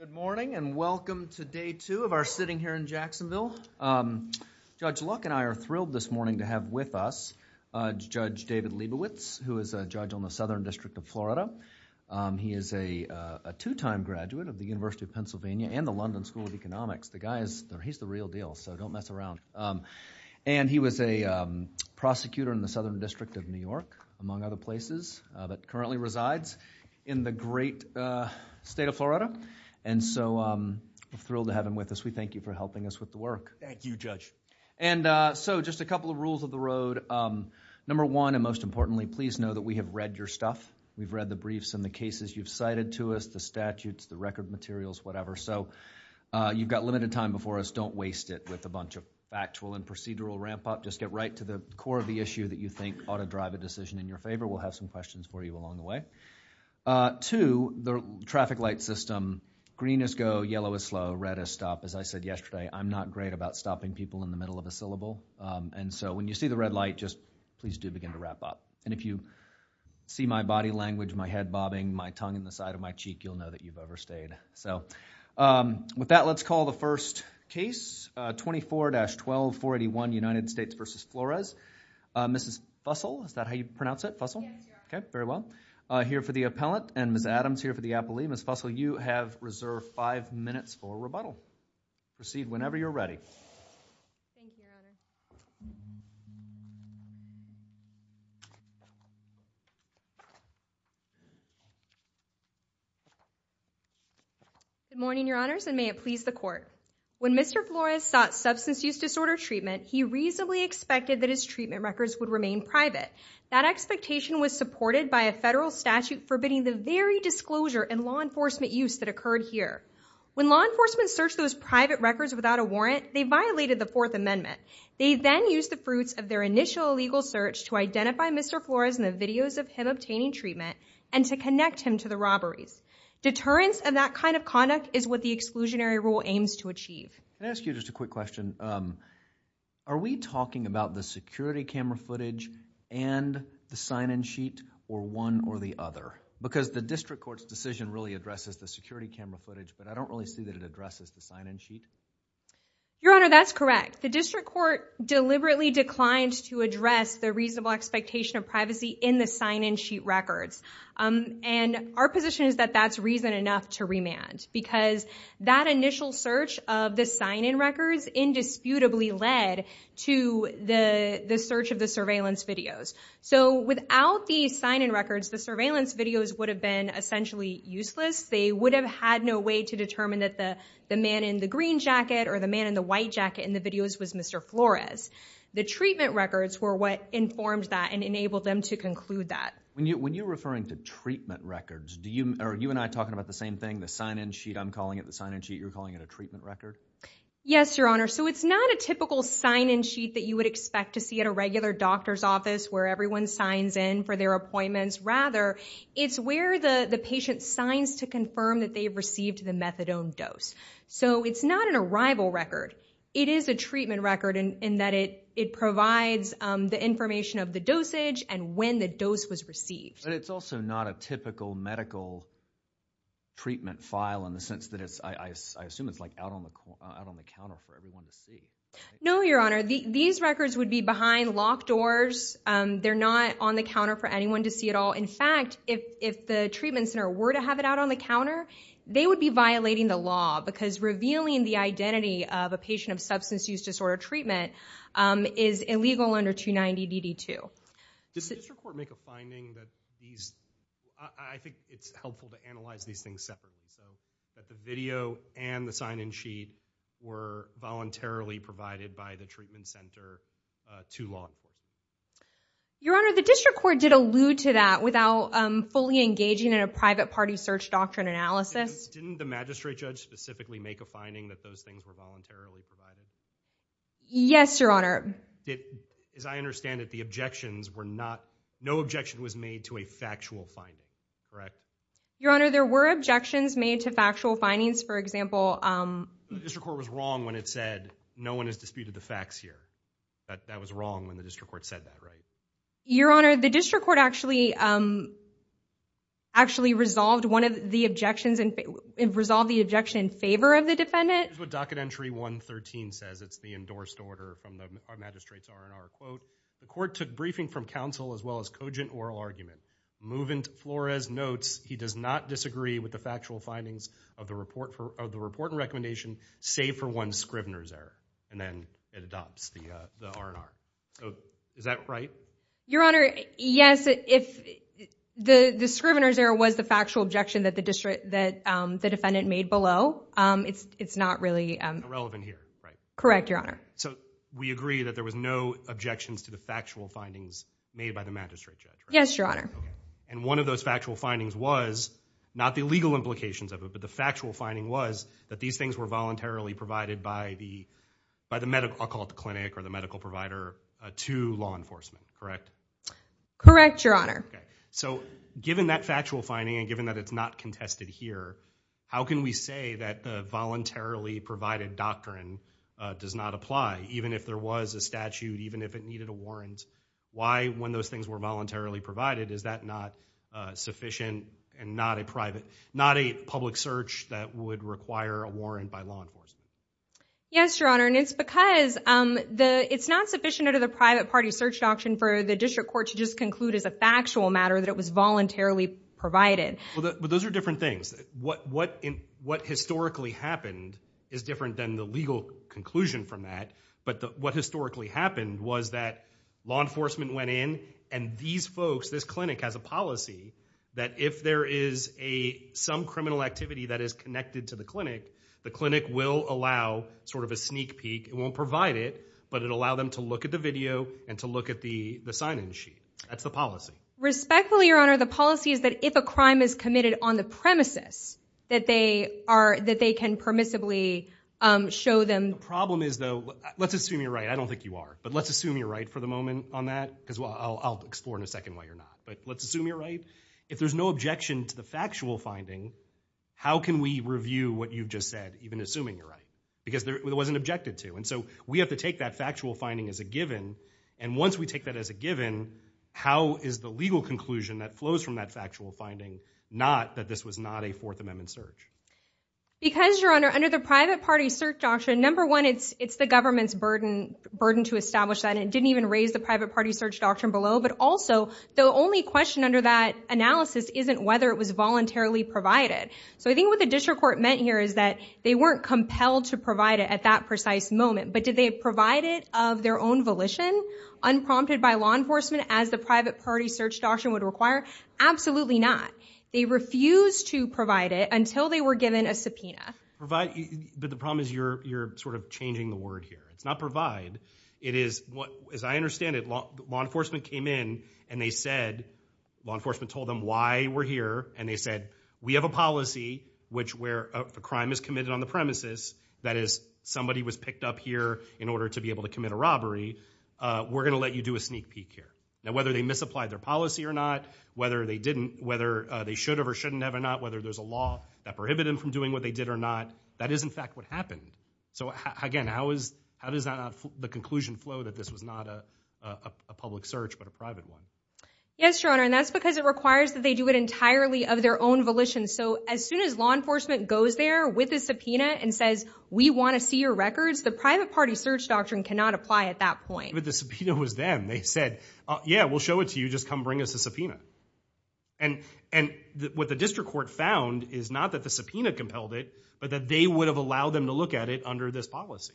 Good morning and welcome to day two of our sitting here in Jacksonville. Judge Luck and I are thrilled this morning to have with us Judge David Leibowitz, who is a judge on the Southern District of Florida. He is a two-time graduate of the University of Pennsylvania and the London School of Economics. The guy is, he's the real deal, so don't mess around. And he was a prosecutor in the Southern District of New York, among other places, that currently resides in the great state of Florida. And so, I'm thrilled to have him with us. We thank you for helping us with the work. Judge Leibowitz Thank you, Judge. Judge Luck And so, just a couple of rules of the road. Number one, and most importantly, please know that we have read your stuff. We've read the briefs and the cases you've cited to us, the statutes, the record materials, whatever. So, you've got limited time before us. Don't waste it with a bunch of factual and procedural ramp up. Just get right to the core of the issue that you think ought to drive a decision in your favor. We'll have some questions for you along the way. Two, the traffic light system, green is go, yellow is slow, red is stop. As I said yesterday, I'm not great about stopping people in the middle of a syllable. And so, when you see the red light, just please do begin to wrap up. And if you see my body language, my head bobbing, my tongue in the side of my cheek, you'll know that you've overstayed. So, with that, let's call the first case, 24-12481, United States v. Flores. Mrs. Fussell, is that how you pronounce it? Yes, Your Honor. Okay, very well. Here for the appellant, and Ms. Adams here for the appellee. Ms. Fussell, you have reserved five minutes for rebuttal. Proceed whenever you're ready. Thank you, Your Honor. Good morning, Your Honors, and may it please the Court. When Mr. Flores sought substance use disorder treatment, he reasonably expected that his treatment records would remain private. That expectation was supported by a federal statute forbidding the very disclosure and law enforcement use that occurred here. When law enforcement searched those private records without a warrant, they violated the Fourth Amendment. They then used the fruits of their initial illegal search to identify Mr. Flores in the videos of him obtaining treatment and to connect him to the robberies. Deterrence of that kind of conduct is what the exclusionary rule aims to achieve. Can I ask you just a quick question? Are we talking about the security camera footage and the sign-in sheet, or one or the other? Because the district court's decision really addresses the security camera footage, but I don't really see that it addresses the sign-in sheet. Your Honor, that's correct. The district court deliberately declined to address the reasonable expectation of privacy in the sign-in sheet records. And our position is that that's reason enough to remand, because that initial search of the sign-in records indisputably led to the search of the surveillance videos. So without the sign-in records, the surveillance videos would have been essentially useless. They would have had no way to determine that the man in the green jacket or the man in the white jacket in the videos was Mr. Flores. The treatment records were what informed that and enabled them to conclude that. When you're referring to treatment records, are you and I talking about the same thing, the sign-in sheet? I'm calling it the sign-in sheet. You're calling it a treatment record? Yes, Your Honor. So it's not a typical sign-in sheet that you would expect to see at a regular doctor's office where everyone signs in for their appointments. Rather, it's where the patient signs to confirm that they've received the methadone dose. So it's not an arrival record. It is a treatment record in that it provides the information of the dosage and when the dose was received. But it's also not a typical medical treatment file in the sense that it's, I assume it's like out on the counter for everyone to see. No, Your Honor. These records would be behind locked doors. They're not on the counter for anyone to see at all. In fact, if the treatment center were to have it out on the counter, they would be violating the law because revealing the identity of a patient of substance use disorder treatment is illegal under 290DD2. Does the district court make a finding that these, I think it's helpful to analyze these things separately, so that the video and the sign-in sheet were voluntarily provided by the treatment center to law enforcement? Your Honor, the district court did allude to that without fully engaging in a private party search doctrine analysis. Didn't the magistrate judge specifically make a finding that those things were voluntarily provided? Yes, Your Honor. As far as I understand it, the objections were not, no objection was made to a factual finding, correct? Your Honor, there were objections made to factual findings. For example... The district court was wrong when it said, no one has disputed the facts here. That was wrong when the district court said that, right? Your Honor, the district court actually, actually resolved one of the objections and resolved the objection in favor of the defendant. Here's what Docket Entry 113 says, it's the endorsed order from the magistrate's R&R quote. The court took briefing from counsel as well as cogent oral argument. Movent Flores notes he does not disagree with the factual findings of the report and recommendation, save for one Scrivener's error. And then it adopts the R&R. Is that right? Your Honor, yes, if the Scrivener's error was the factual objection that the defendant made below, it's not really... Irrelevant here, right? Correct, Your Honor. So we agree that there was no objections to the factual findings made by the magistrate judge, right? Yes, Your Honor. And one of those factual findings was, not the legal implications of it, but the factual finding was that these things were voluntarily provided by the medical, I'll call it the clinic or the medical provider, to law enforcement, correct? Correct, Your Honor. So given that factual finding and given that it's not contested here, how can we say that the voluntarily provided doctrine does not apply, even if there was a statute, even if it needed a warrant? Why when those things were voluntarily provided, is that not sufficient and not a public search that would require a warrant by law enforcement? Yes, Your Honor, and it's because it's not sufficient under the private party search doctrine for the district court to just conclude as a factual matter that it was voluntarily provided. Well, those are different things. What historically happened is different than the legal conclusion from that, but what historically happened was that law enforcement went in, and these folks, this clinic has a policy that if there is some criminal activity that is connected to the clinic, the clinic will allow sort of a sneak peek, it won't provide it, but it allow them to look at the video and to look at the sign-in sheet. That's the policy. Respectfully, Your Honor, the policy is that if a crime is committed on the premises, that they are, that they can permissibly show them. The problem is though, let's assume you're right, I don't think you are, but let's assume you're right for the moment on that, because I'll explore in a second why you're not, but let's assume you're right. If there's no objection to the factual finding, how can we review what you've just said, even assuming you're right? Because there wasn't objected to, and so we have to take that factual finding as a given, and once we take that as a given, how is the legal conclusion that flows from that factual finding, not that this was not a Fourth Amendment search? Because Your Honor, under the private party search doctrine, number one, it's the government's burden to establish that, and it didn't even raise the private party search doctrine below, but also the only question under that analysis isn't whether it was voluntarily provided. So I think what the district court meant here is that they weren't compelled to provide it at that precise moment, but did they provide it of their own volition, unprompted by law enforcement as the private party search doctrine would require? Absolutely not. They refused to provide it until they were given a subpoena. Provide, but the problem is you're sort of changing the word here, it's not provide, it is, as I understand it, law enforcement came in and they said, law enforcement told them why we're here, and they said, we have a policy which where a crime is committed on the premises, that is, somebody was picked up here in order to be able to commit a robbery, we're going to let you do a sneak peek here. Now whether they misapplied their policy or not, whether they didn't, whether they should have or shouldn't have or not, whether there's a law that prohibited them from doing what they did or not, that is in fact what happened. So again, how does the conclusion flow that this was not a public search but a private one? Yes, Your Honor, and that's because it requires that they do it entirely of their own volition. So as soon as law enforcement goes there with a subpoena and says, we want to see your records, the private party search doctrine cannot apply at that point. But the subpoena was them, they said, yeah, we'll show it to you, just come bring us a subpoena. And what the district court found is not that the subpoena compelled it, but that they would have allowed them to look at it under this policy.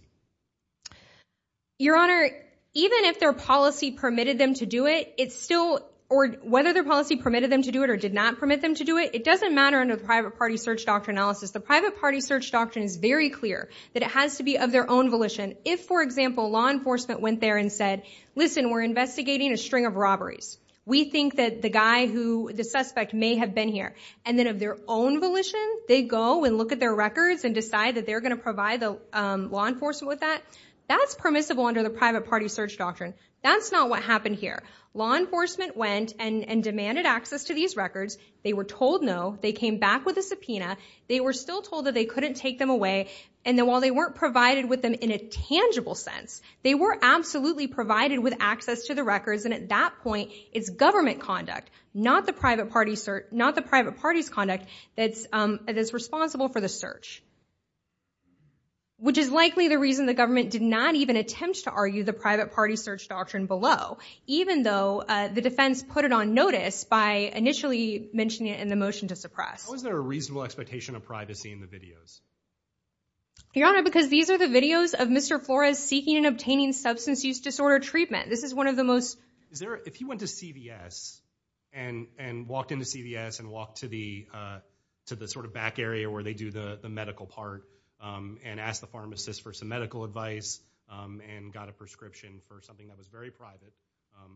Your Honor, even if their policy permitted them to do it, it's still, or whether their policy permitted them to do it or did not permit them to do it, it doesn't matter under the private party search doctrine analysis. The private party search doctrine is very clear that it has to be of their own volition. If for example, law enforcement went there and said, listen, we're investigating a string of robberies. We think that the guy who, the suspect may have been here. And then of their own volition, they go and look at their records and decide that they're going to provide the law enforcement with that. That's permissible under the private party search doctrine. That's not what happened here. Law enforcement went and demanded access to these records. They were told no. They came back with a subpoena. They were still told that they couldn't take them away. And then while they weren't provided with them in a tangible sense, they were absolutely provided with access to the records. And at that point, it's government conduct, not the private party's conduct, that's responsible for the search. Which is likely the reason the government did not even attempt to argue the private party search doctrine below, even though the defense put it on notice by initially mentioning it in the motion to suppress. How is there a reasonable expectation of privacy in the videos? Your Honor, because these are the videos of Mr. Flores seeking and obtaining substance use disorder treatment. This is one of the most... Is there, if you went to CVS and walked into CVS and walked to the sort of back area where they do the medical part, and asked the pharmacist for some medical advice, and got a prescription for something that was very private,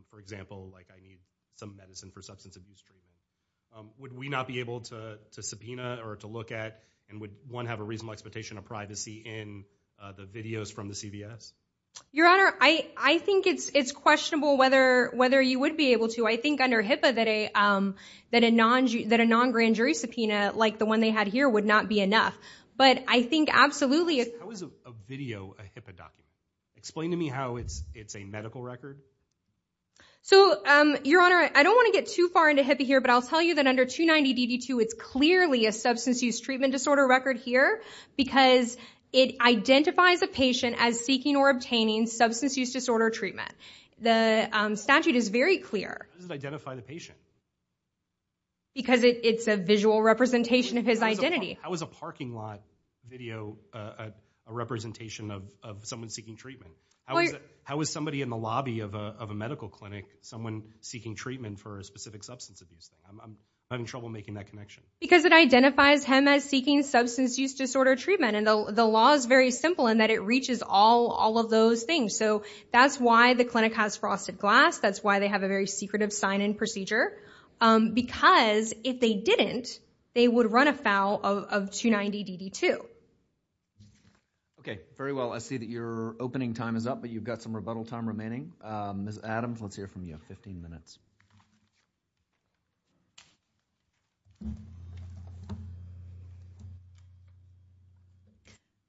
for example, like I need some medicine for substance abuse treatment. Would we not be able to subpoena or to look at, and would one have a reasonable expectation of privacy in the videos from the CVS? Your Honor, I think it's questionable whether you would be able to. I think under HIPAA that a non-grand jury subpoena like the one they had here would not be enough. But I think absolutely... How is a video a HIPAA document? Explain to me how it's a medical record. So Your Honor, I don't want to get too far into HIPAA here, but I'll tell you that under 290DD2, it's clearly a substance use treatment disorder record here, because it identifies a patient as seeking or obtaining substance use disorder treatment. The statute is very clear. How does it identify the patient? Because it's a visual representation of his identity. How is a parking lot video a representation of someone seeking treatment? How is somebody in the lobby of a medical clinic someone seeking treatment for a specific substance abuse? I'm having trouble making that connection. Because it identifies him as seeking substance use disorder treatment, and the law is very simple in that it reaches all of those things. So that's why the clinic has frosted glass. That's why they have a very secretive sign-in procedure, because if they didn't, they would run afoul of 290DD2. Very well. I see that your opening time is up, but you've got some rebuttal time remaining. Ms. Adams, let's hear from you, 15 minutes.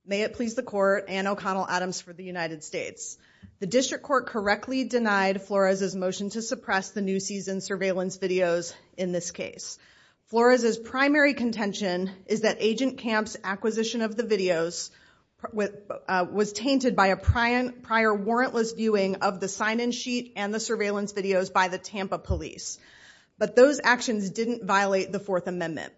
May it please the Court, Anne O'Connell Adams for the United States. The district court correctly denied Flores' motion to suppress the new season surveillance videos in this case. Flores' primary contention is that Agent Camp's acquisition of the videos was tainted by a prior warrantless viewing of the sign-in sheet and the surveillance videos by the Tampa police. But those actions didn't violate the Fourth Amendment.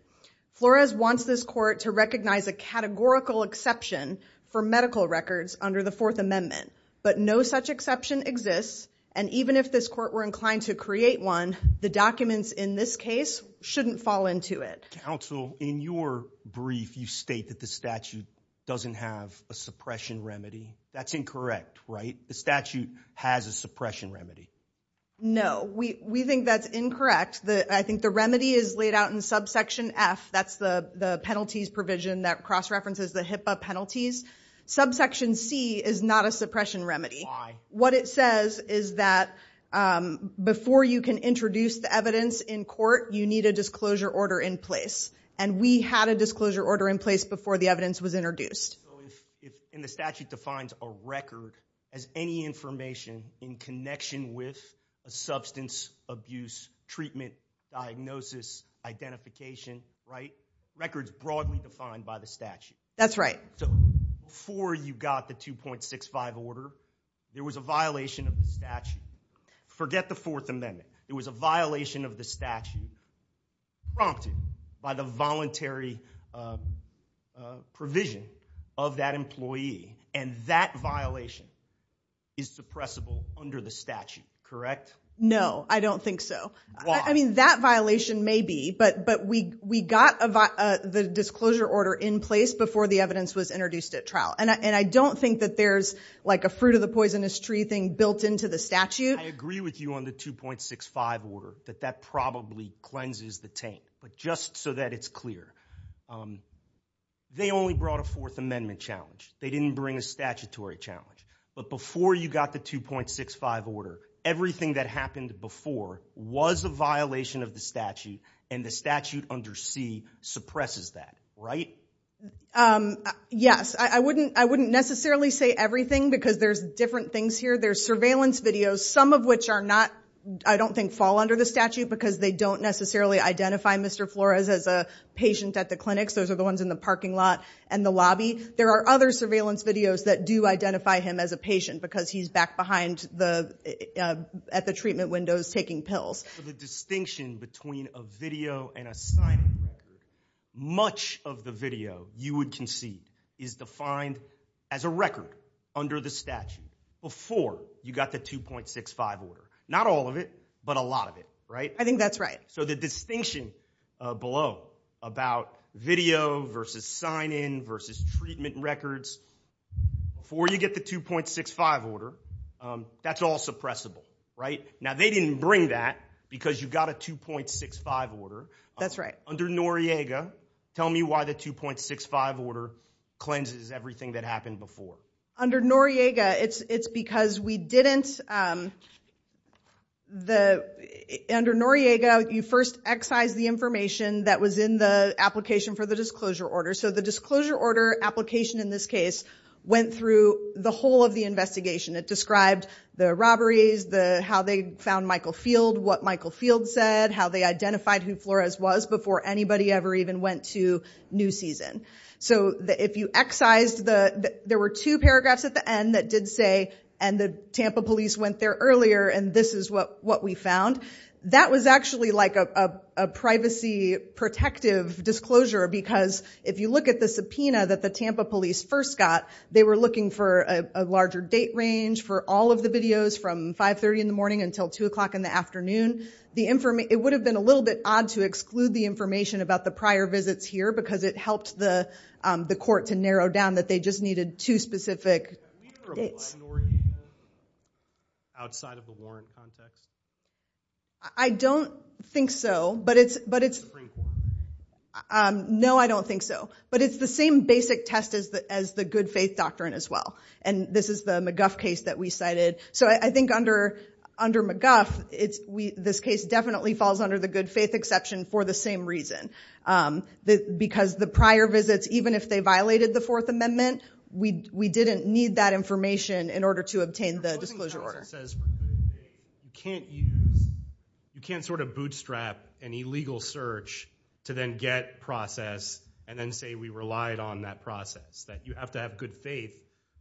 Flores wants this court to recognize a categorical exception for medical records under the Fourth Amendment. But no such exception exists, and even if this court were inclined to create one, the documents in this case shouldn't fall into it. Counsel, in your brief, you state that the statute doesn't have a suppression remedy. That's incorrect, right? The statute has a suppression remedy. No, we think that's incorrect. I think the remedy is laid out in subsection F, that's the penalties provision that cross-references the HIPAA penalties. Subsection C is not a suppression remedy. What it says is that before you can introduce the evidence in court, you need a disclosure order in place. And we had a disclosure order in place before the evidence was introduced. And the statute defines a record as any information in connection with a substance abuse treatment diagnosis, identification, right? Records broadly defined by the statute. That's right. So, before you got the 2.65 order, there was a violation of the statute. Forget the Fourth Amendment. There was a violation of the statute prompted by the voluntary provision of that employee, and that violation is suppressible under the statute, correct? No, I don't think so. Why? I mean, that violation may be, but we got the disclosure order in place before the evidence was introduced at trial. And I don't think that there's like a fruit of the poisonous tree thing built into the statute. I agree with you on the 2.65 order, that that probably cleanses the taint, but just so that it's clear. They only brought a Fourth Amendment challenge. They didn't bring a statutory challenge. But before you got the 2.65 order, everything that happened before was a violation of the statute, and the statute under C suppresses that, right? Yes, I wouldn't necessarily say everything because there's different things here. There's surveillance videos, some of which are not, I don't think, fall under the statute because they don't necessarily identify Mr. Flores as a patient at the clinics. Those are the ones in the parking lot and the lobby. There are other surveillance videos that do identify him as a patient because he's back behind at the treatment windows taking pills. For the distinction between a video and a sign-in record, much of the video you would concede is defined as a record under the statute before you got the 2.65 order. Not all of it, but a lot of it, right? I think that's right. So the distinction below about video versus sign-in versus treatment records, before you get the 2.65 order, that's all suppressible, right? Now they didn't bring that because you got a 2.65 order. That's right. Under Noriega, tell me why the 2.65 order cleanses everything that happened before. Under Noriega, it's because we didn't... Under Noriega, you first excise the information that was in the application for the disclosure order. So the disclosure order application in this case went through the whole of the investigation. It described the robberies, how they found Michael Field, what Michael Field said, how they identified who Flores was before anybody ever even went to New Season. So if you excised the... There were two paragraphs at the end that did say, and the Tampa police went there earlier and this is what we found. That was actually like a privacy protective disclosure because if you look at the subpoena that the Tampa police first got, they were looking for a larger date range for all of the videos from 5.30 in the morning until 2 o'clock in the afternoon. It would have been a little bit odd to exclude the information about the prior visits here because it helped the court to narrow down that they just needed two specific dates. Are you from Noriega, outside of the warrant context? I don't think so, but it's... It's the Supreme Court. No, I don't think so. But it's the same basic test as the good faith doctrine as well. And this is the McGuff case that we cited. So I think under McGuff, this case definitely falls under the good faith exception for the same reason. Because the prior visits, even if they violated the Fourth Amendment, we didn't need that information in order to obtain the disclosure order. The reporting process says you can't use... You can't sort of bootstrap an illegal search to then get process and then say we relied on that process. That you have to have good faith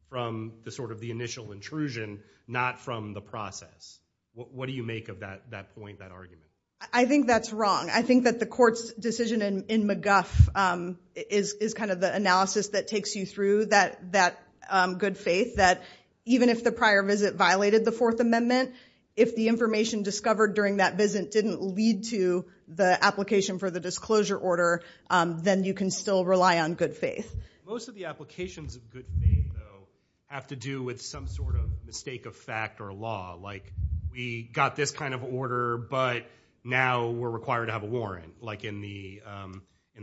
from the initial intrusion, not from the process. What do you make of that point, that argument? I think that's wrong. I think that the court's decision in McGuff is kind of the analysis that takes you through that good faith. That even if the prior visit violated the Fourth Amendment, if the information discovered during that visit didn't lead to the application for the disclosure order, then you can still rely on good faith. Most of the applications of good faith, though, have to do with some sort of mistake of fact or law. Like, we got this kind of order, but now we're required to have a warrant. Like in the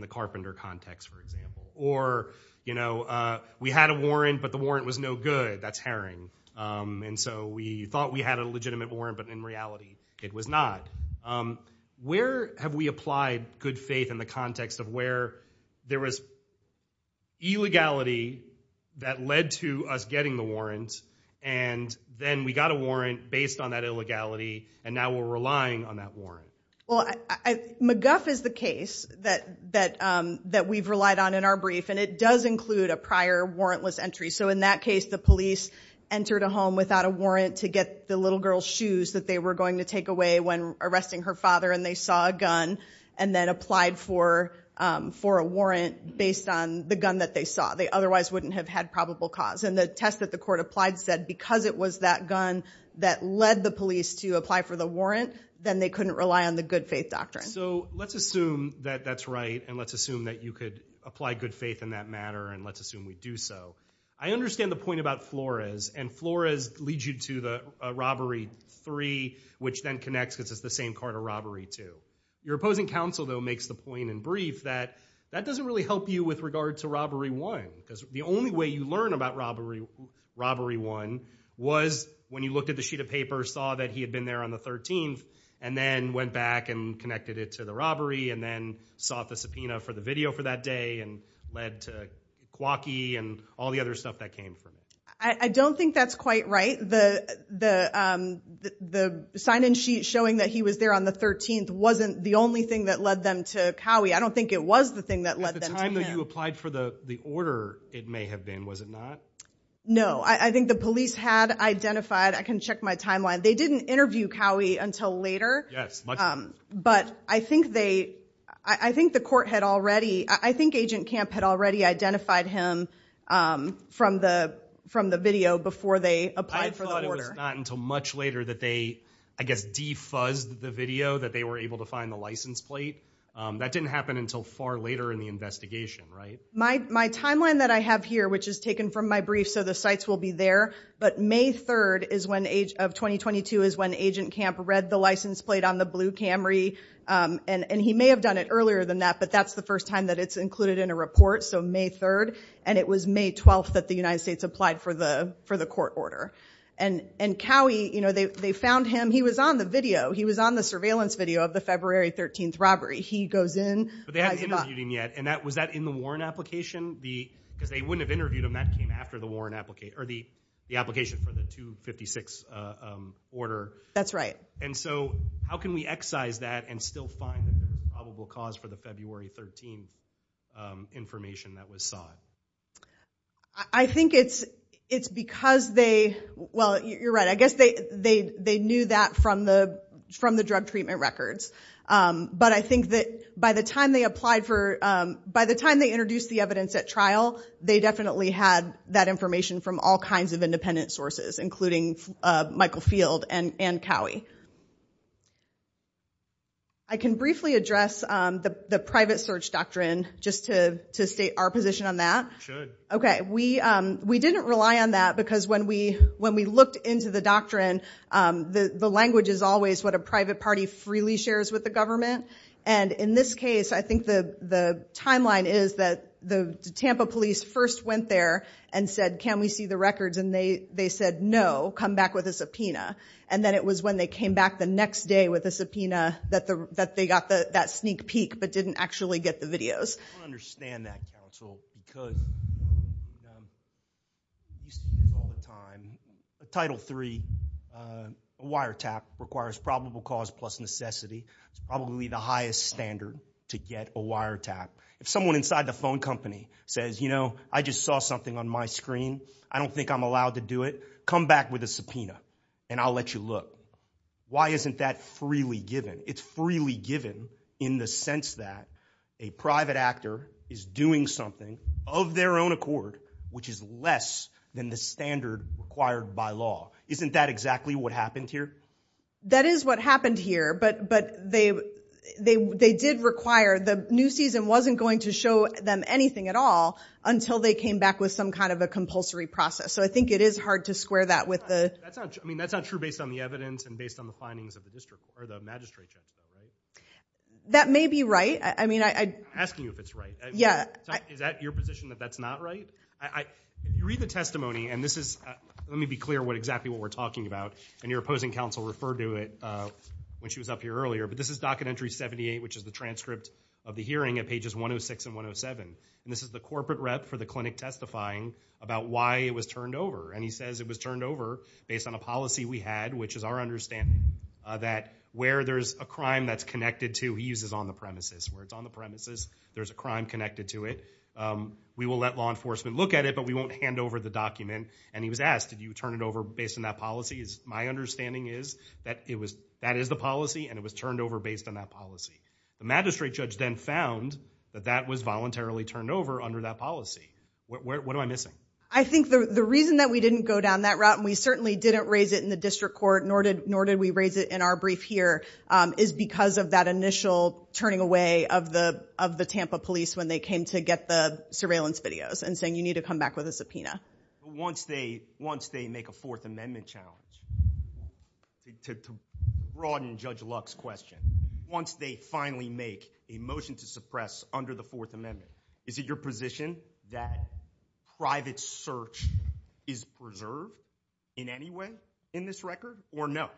carpenter context, for example. Or we had a warrant, but the warrant was no good. That's herring. And so we thought we had a legitimate warrant, but in reality, it was not. Where have we applied good faith in the context of where there was illegality that led to us getting the warrant, and then we got a warrant based on that illegality, and now we're relying on that warrant? Well, McGuff is the case that we've relied on in our brief, and it does include a prior warrantless entry. So in that case, the police entered a home without a warrant to get the little girl's shoes that they were going to take away when arresting her father, and they saw a gun and then applied for a warrant based on the gun that they saw. They otherwise wouldn't have had probable cause. And the test that the court applied said because it was that gun that led the police to apply for the warrant, then they couldn't rely on the good faith doctrine. So let's assume that that's right, and let's assume that you could apply good faith in that matter, and let's assume we do so. I understand the point about Flores, and Flores leads you to the Robbery 3, which then connects because it's the same card of Robbery 2. Your opposing counsel, though, makes the point in brief that that doesn't really help you with regard to Robbery 1, because the only way you learn about Robbery 1 was when you looked at the sheet of paper, saw that he had been there on the 13th, and then went back and connected it to the robbery, and then sought the subpoena for the video for that day, and led to Kwaki and all the other stuff that came from it. I don't think that's quite right. The sign-in sheet showing that he was there on the 13th wasn't the only thing that led them to Cowie. I don't think it was the thing that led them to him. At the time that you applied for the order, it may have been, was it not? No. I think the police had identified, I can check my timeline, they didn't interview Cowie until later. Yes. But I think they, I think the court had already, I think Agent Camp had already identified him from the video before they applied for the order. I thought it was not until much later that they, I guess, defuzzed the video that they were able to find the license plate. That didn't happen until far later in the investigation, right? My timeline that I have here, which is taken from my brief, so the sites will be there, but May 3rd is when, of 2022, is when Agent Camp read the license plate on the blue Camry, and he may have done it earlier than that, but that's the first time that it's included in a report, so May 3rd, and it was May 12th that the United States applied for the court order. And Cowie, you know, they found him, he was on the video, he was on the surveillance video of the February 13th robbery. He goes in. But they hadn't interviewed him yet, and that, was that in the Warren application? Because they wouldn't have interviewed him, that came after the Warren application, or the application for the 256 order. That's right. And so, how can we excise that and still find the probable cause for the February 13th information that was sought? I think it's because they, well, you're right, I guess they knew that from the drug treatment records. But I think that by the time they applied for, by the time they introduced the evidence at trial, they definitely had that information from all kinds of independent sources, including Michael Field and Cowie. I can briefly address the private search doctrine, just to state our position on that. You should. Okay, we didn't rely on that, because when we looked into the doctrine, the language is always what a private party freely shares with the government. And in this case, I think the timeline is that the Tampa police first went there and said, can we see the records? And they said, no, come back with a subpoena. And then it was when they came back the next day with a subpoena that they got that sneak peek, but didn't actually get the videos. I don't understand that, counsel, because we see this all the time. Title III, a wiretap, requires probable cause plus necessity, is probably the highest standard to get a wiretap. If someone inside the phone company says, you know, I just saw something on my screen, I don't think I'm allowed to do it, come back with a subpoena, and I'll let you look. Why isn't that freely given? It's freely given in the sense that a private actor is doing something of their own accord, which is less than the standard required by law. Isn't that exactly what happened here? That is what happened here. But they did require, the new season wasn't going to show them anything at all until they came back with some kind of a compulsory process. So I think it is hard to square that with the... That's not true. I mean, that's not true based on the evidence and based on the findings of the district or the magistrate general, right? That may be right. I mean, I... I'm asking you if it's right. Yeah. Is that your position that that's not right? I... Read the testimony, and this is, let me be clear what exactly what we're talking about, and your opposing counsel referred to it when she was up here earlier, but this is docket entry 78, which is the transcript of the hearing at pages 106 and 107, and this is the corporate rep for the clinic testifying about why it was turned over, and he says it was turned over based on a policy we had, which is our understanding, that where there's a crime that's connected to, he uses on the premises, where it's on the premises, there's a crime connected to it, we will let law enforcement look at it, but we won't hand over the document, and he was asked, did you turn it over based on that policy? My understanding is that it was... That is the policy, and it was turned over based on that policy. The magistrate judge then found that that was voluntarily turned over under that policy. What... What am I missing? I think the reason that we didn't go down that route, and we certainly didn't raise it in the district court, nor did we raise it in our brief here, is because of that initial turning away of the Tampa police when they came to get the surveillance videos, and saying you need to come back with a subpoena. Once they make a Fourth Amendment challenge, to broaden Judge Luck's question, once they finally make a motion to suppress under the Fourth Amendment, is it your position that private search is preserved in any way in this record, or no?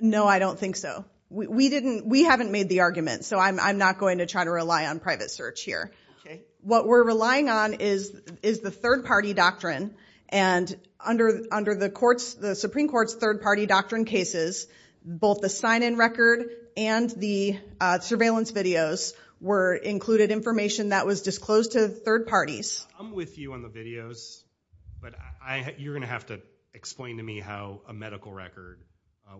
No, I don't think so. We didn't... We haven't made the argument, so I'm not going to try to rely on private search here. What we're relying on is the third-party doctrine, and under the Supreme Court's third-party doctrine cases, both the sign-in record and the surveillance videos were included information that was disclosed to third parties. I'm with you on the videos, but you're going to have to explain to me how a medical record,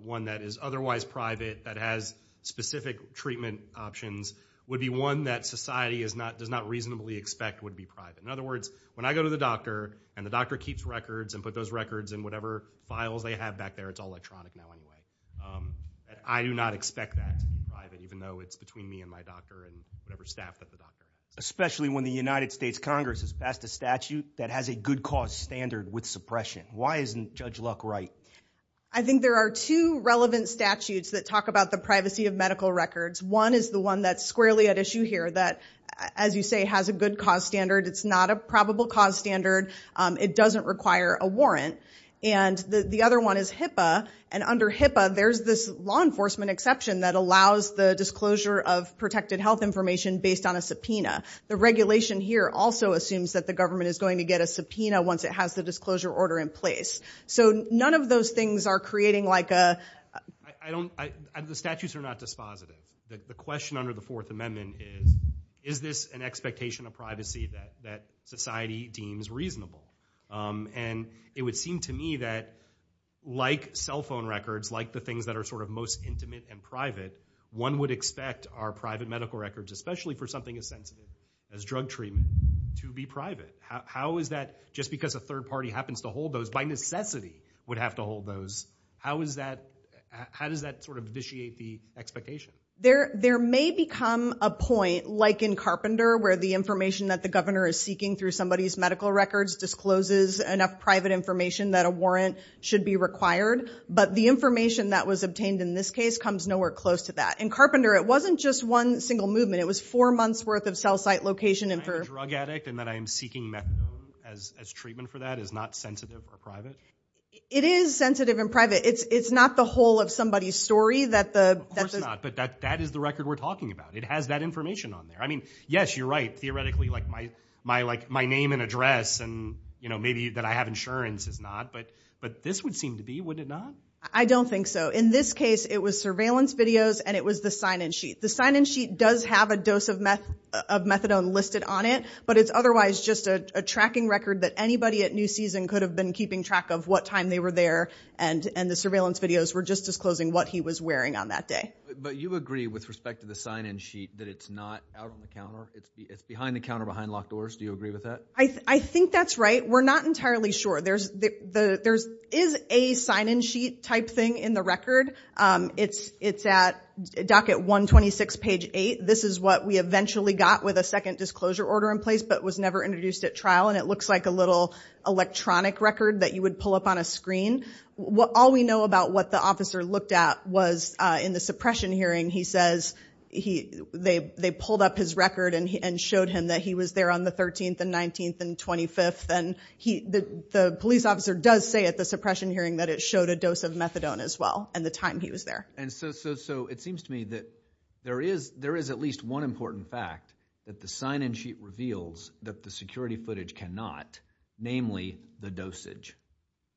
one that is otherwise private, that has specific treatment options, would be one that society does not reasonably expect would be private. In other words, when I go to the doctor, and the doctor keeps records, and put those records in whatever files they have back there, it's all electronic now anyway. I do not expect that to be private, even though it's between me and my doctor, and whatever staff that the doctor has. Especially when the United States Congress has passed a statute that has a good cause standard with suppression. Why isn't Judge Luck right? I think there are two relevant statutes that talk about the privacy of medical records. One is the one that's squarely at issue here, that, as you say, has a good cause standard. It's not a probable cause standard. It doesn't require a warrant. And the other one is HIPAA, and under HIPAA, there's this law enforcement exception that allows the disclosure of protected health information based on a subpoena. The regulation here also assumes that the government is going to get a subpoena once it has the disclosure order in place. So none of those things are creating like a... I don't... The statutes are not dispositive. The question under the Fourth Amendment is, is this an expectation of privacy that society deems reasonable? And it would seem to me that, like cell phone records, like the things that are sort of most intimate and private, one would expect our private medical records, especially for something as sensitive as drug treatment, to be private. How is that... Just because a third party happens to hold those, by necessity, would have to hold those. How is that... How does that sort of vitiate the expectation? There may become a point, like in Carpenter, where the information that the governor is seeking through somebody's medical records discloses enough private information that a warrant should be required. But the information that was obtained in this case comes nowhere close to that. In Carpenter, it wasn't just one single movement. It was four months' worth of cell site location... That I am a drug addict and that I am seeking methadone as treatment for that is not sensitive or private? It is sensitive and private. It's not the whole of somebody's story that the... Of course not, but that is the record we're talking about. It has that information on there. I mean, yes, you're right, theoretically, like my name and address and maybe that I have insurance is not, but this would seem to be, would it not? I don't think so. In this case, it was surveillance videos and it was the sign-in sheet. The sign-in sheet does have a dose of methadone listed on it, but it's otherwise just a tracking record that anybody at New Season could have been keeping track of what time they were there and the surveillance videos were just disclosing what he was wearing on that day. But you agree with respect to the sign-in sheet that it's not out on the counter? It's behind the counter, behind locked doors? Do you agree with that? I think that's right. We're not entirely sure. There is a sign-in sheet type thing in the record. It's at docket 126, page 8. This is what we eventually got with a second disclosure order in place, but was never introduced at trial and it looks like a little electronic record that you would pull up on a screen. All we know about what the officer looked at was in the suppression hearing, he says they pulled up his record and showed him that he was there on the 13th and 19th and 25th. The police officer does say at the suppression hearing that it showed a dose of methadone as well, and the time he was there. It seems to me that there is at least one important fact that the sign-in sheet reveals that the security footage cannot, namely the dosage,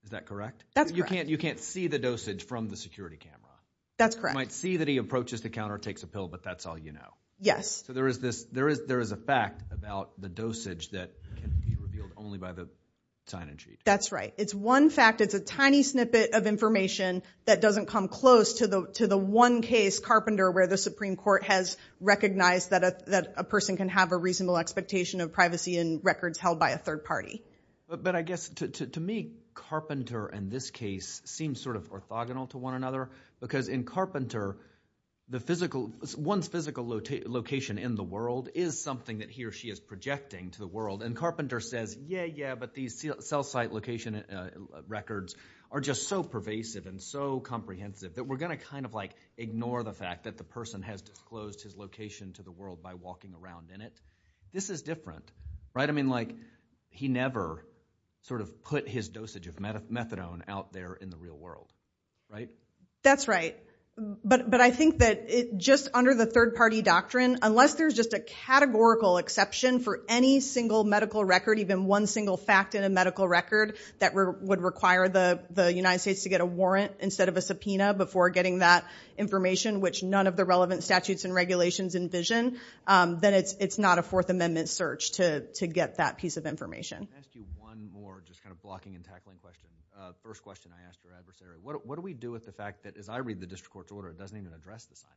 is that correct? That's correct. You can't see the dosage from the security camera? That's correct. You might see that he approaches the counter, takes a pill, but that's all you know? Yes. So there is a fact about the dosage that can be revealed only by the sign-in sheet? That's right. It's one fact. It's a tiny snippet of information that doesn't come close to the one case, Carpenter, where the Supreme Court has recognized that a person can have a reasonable expectation of privacy in records held by a third party. But I guess to me, Carpenter in this case seems sort of orthogonal to one another because in Carpenter, one's physical location in the world is something that he or she is projecting to the world. And Carpenter says, yeah, yeah, but these cell site location records are just so pervasive and so comprehensive that we're going to kind of like ignore the fact that the person has disclosed his location to the world by walking around in it. This is different. Right? I mean, like, he never sort of put his dosage of methadone out there in the real world. Right? That's right. But I think that just under the third party doctrine, unless there's just a categorical exception for any single medical record, even one single fact in a medical record, that would require the United States to get a warrant instead of a subpoena before getting that information, which none of the relevant statutes and regulations envision, then it's not a Fourth Amendment search to get that piece of information. Can I ask you one more, just kind of blocking and tackling question, first question I asked your adversary. What do we do with the fact that, as I read the district court's order, it doesn't even address the sign?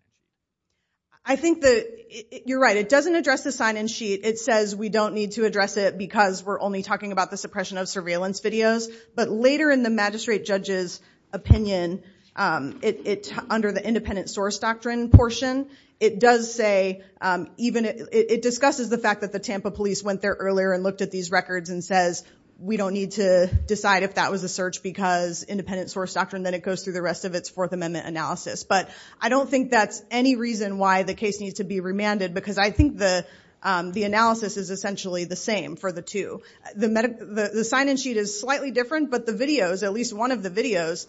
I think that, you're right. It doesn't address the sign and sheet. It says we don't need to address it because we're only talking about the suppression of surveillance videos. But later in the magistrate judge's opinion, under the independent source doctrine portion, it does say, it discusses the fact that the Tampa police went there earlier and looked at these records and says, we don't need to decide if that was a search because independent source doctrine, then it goes through the rest of its Fourth Amendment analysis. But I don't think that's any reason why the case needs to be remanded because I think the analysis is essentially the same for the two. The sign and sheet is slightly different, but the videos, at least one of the videos,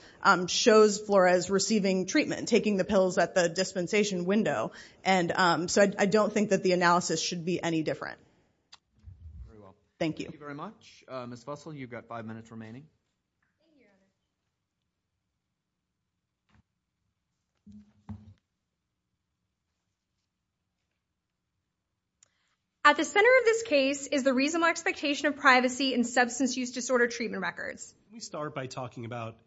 shows Flores receiving treatment, taking the pills at the dispensation window. And so I don't think that the analysis should be any different. Thank you. Thank you very much. Ms. Fussell, you've got five minutes remaining. At the center of this case is the reasonable expectation of privacy in substance use disorder treatment records. Can we start by talking about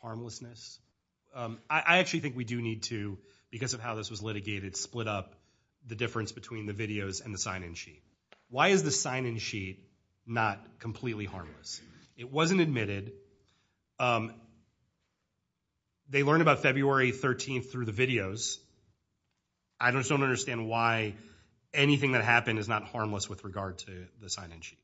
harmlessness? I actually think we do need to, because of how this was litigated, split up the difference between the videos and the sign and sheet. Why is the sign and sheet not completely harmless? It wasn't admitted. They learned about February 13th through the videos. I just don't understand why anything that happened is not harmless with regard to the sign and sheet.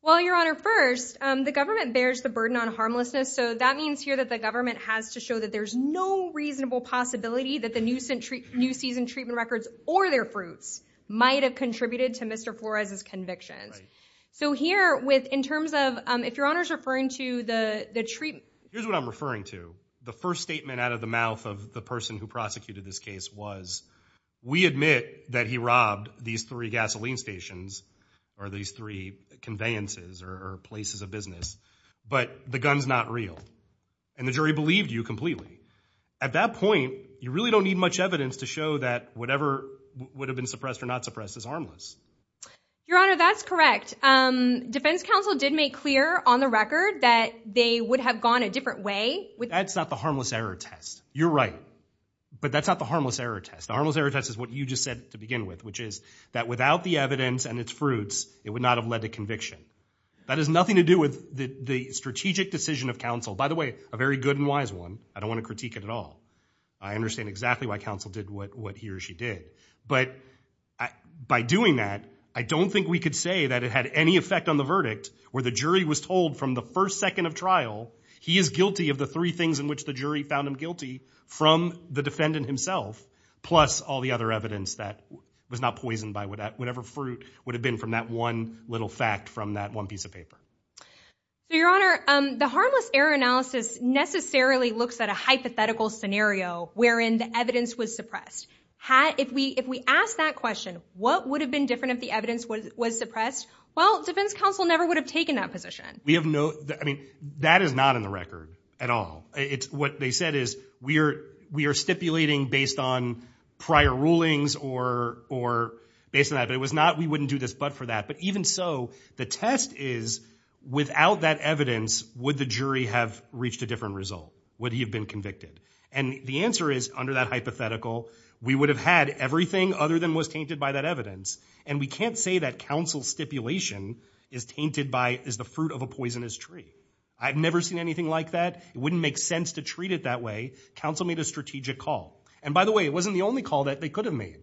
Well, Your Honor, first, the government bears the burden on harmlessness. So that means here that the government has to show that there's no reasonable possibility that the new season treatment records or their fruits might have contributed to Mr. Flores' convictions. Right. So here, in terms of, if Your Honor's referring to the treatment- Here's what I'm referring to. The first statement out of the mouth of the person who prosecuted this case was, we admit that he robbed these three gasoline stations, or these three conveyances, or places of business, but the gun's not real. And the jury believed you completely. At that point, you really don't need much evidence to show that whatever would have been suppressed or not suppressed is harmless. Your Honor, that's correct. Defense counsel did make clear on the record that they would have gone a different way. That's not the harmless error test. You're right. But that's not the harmless error test. The harmless error test is what you just said to begin with, which is that without the evidence and its fruits, it would not have led to conviction. That has nothing to do with the strategic decision of counsel. By the way, a very good and wise one. I don't want to critique it at all. I understand exactly why counsel did what he or she did. But by doing that, I don't think we could say that it had any effect on the verdict where the jury was told from the first second of trial, he is guilty of the three things in which the jury found him guilty from the defendant himself, plus all the other evidence that was not poisoned by whatever fruit would have been from that one little fact from that one piece of paper. So, Your Honor, the harmless error analysis necessarily looks at a hypothetical scenario wherein the evidence was suppressed. If we ask that question, what would have been different if the evidence was suppressed? Well, defense counsel never would have taken that position. We have no... I mean, that is not in the record at all. What they said is, we are stipulating based on prior rulings or based on that. But it was not, we wouldn't do this but for that. But even so, the test is, without that evidence, would the jury have reached a different result? Would he have been convicted? And the answer is, under that hypothetical, we would have had everything other than was tainted by that evidence. And we can't say that counsel's stipulation is tainted by, is the fruit of a poisonous tree. I've never seen anything like that. It wouldn't make sense to treat it that way. Counsel made a strategic call. And by the way, it wasn't the only call that they could have made.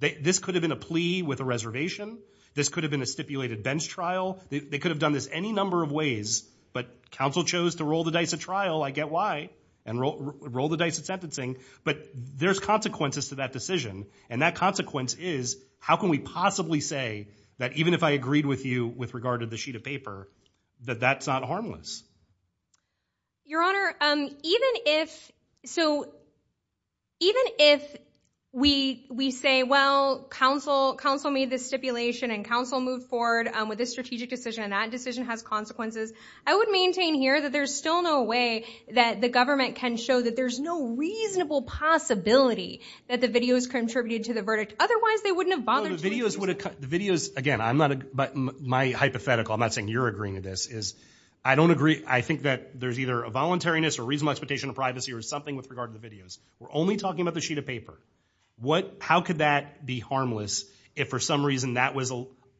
This could have been a plea with a reservation. This could have been a stipulated bench trial. They could have done this any number of ways. But counsel chose to roll the dice at trial, I get why. And roll the dice at sentencing. But there's consequences to that decision. And that consequence is, how can we possibly say that even if I agreed with you with regard to the sheet of paper, that that's not harmless? Your Honor, even if, so, even if we say, well, counsel made this stipulation and counsel moved forward with this strategic decision, and that decision has consequences, I would maintain here that there's still no way that the government can show that there's no reasonable possibility that the videos contributed to the verdict. Otherwise, they wouldn't have bothered to do it. The videos, again, I'm not, my hypothetical, I'm not saying you're agreeing to this, is I don't agree. I think that there's either a voluntariness or reasonable expectation of privacy or something with regard to the videos. We're only talking about the sheet of paper. What, how could that be harmless if for some reason that was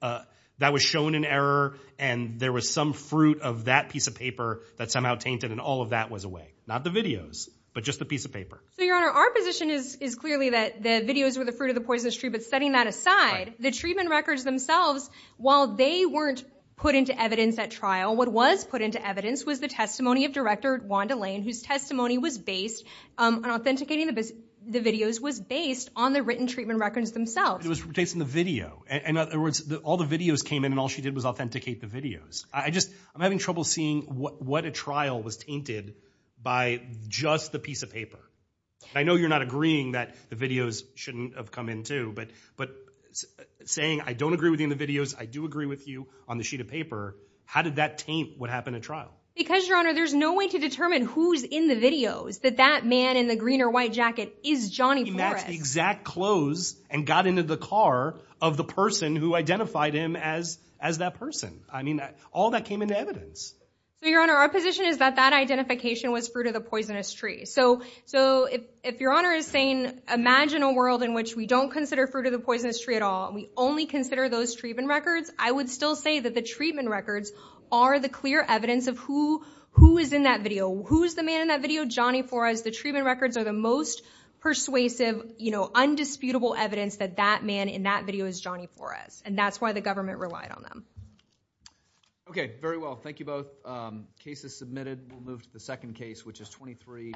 a, that was shown in error and there was some fruit of that piece of paper that somehow tainted and all of that was away? Not the videos, but just the piece of paper. So, Your Honor, our position is, is clearly that the videos were the fruit of the poisonous tree, but setting that aside, the treatment records themselves, while they weren't put into evidence at trial, what was put into evidence was the testimony of Director Wanda Lane, whose testimony was based on authenticating the, the videos was based on the written treatment records themselves. It was based on the video. In other words, all the videos came in and all she did was authenticate the videos. I just, I'm having trouble seeing what, what a trial was tainted by just the piece of paper. I know you're not agreeing that the videos shouldn't have come in too, but, but saying I don't agree with you in the videos, I do agree with you on the sheet of paper. How did that taint what happened at trial? Because Your Honor, there's no way to determine who's in the videos, that that man in the green or white jacket is Johnny Flores. He matched the exact clothes and got into the car of the person who identified him as, as that person. I mean, all that came into evidence. So, Your Honor, our position is that that identification was fruit of the poisonous tree. So, so if, if Your Honor is saying, imagine a world in which we don't consider fruit of the poisonous tree at all, and we only consider those treatment records, I would still say that the treatment records are the clear evidence of who, who is in that video. Who's the man in that video? Johnny Flores. The treatment records are the most persuasive, you know, undisputable evidence that that man in that video is Johnny Flores. And that's why the government relied on them. Okay. Very well. Thank you both. Um, case is submitted. We'll move to the second case, which is 23.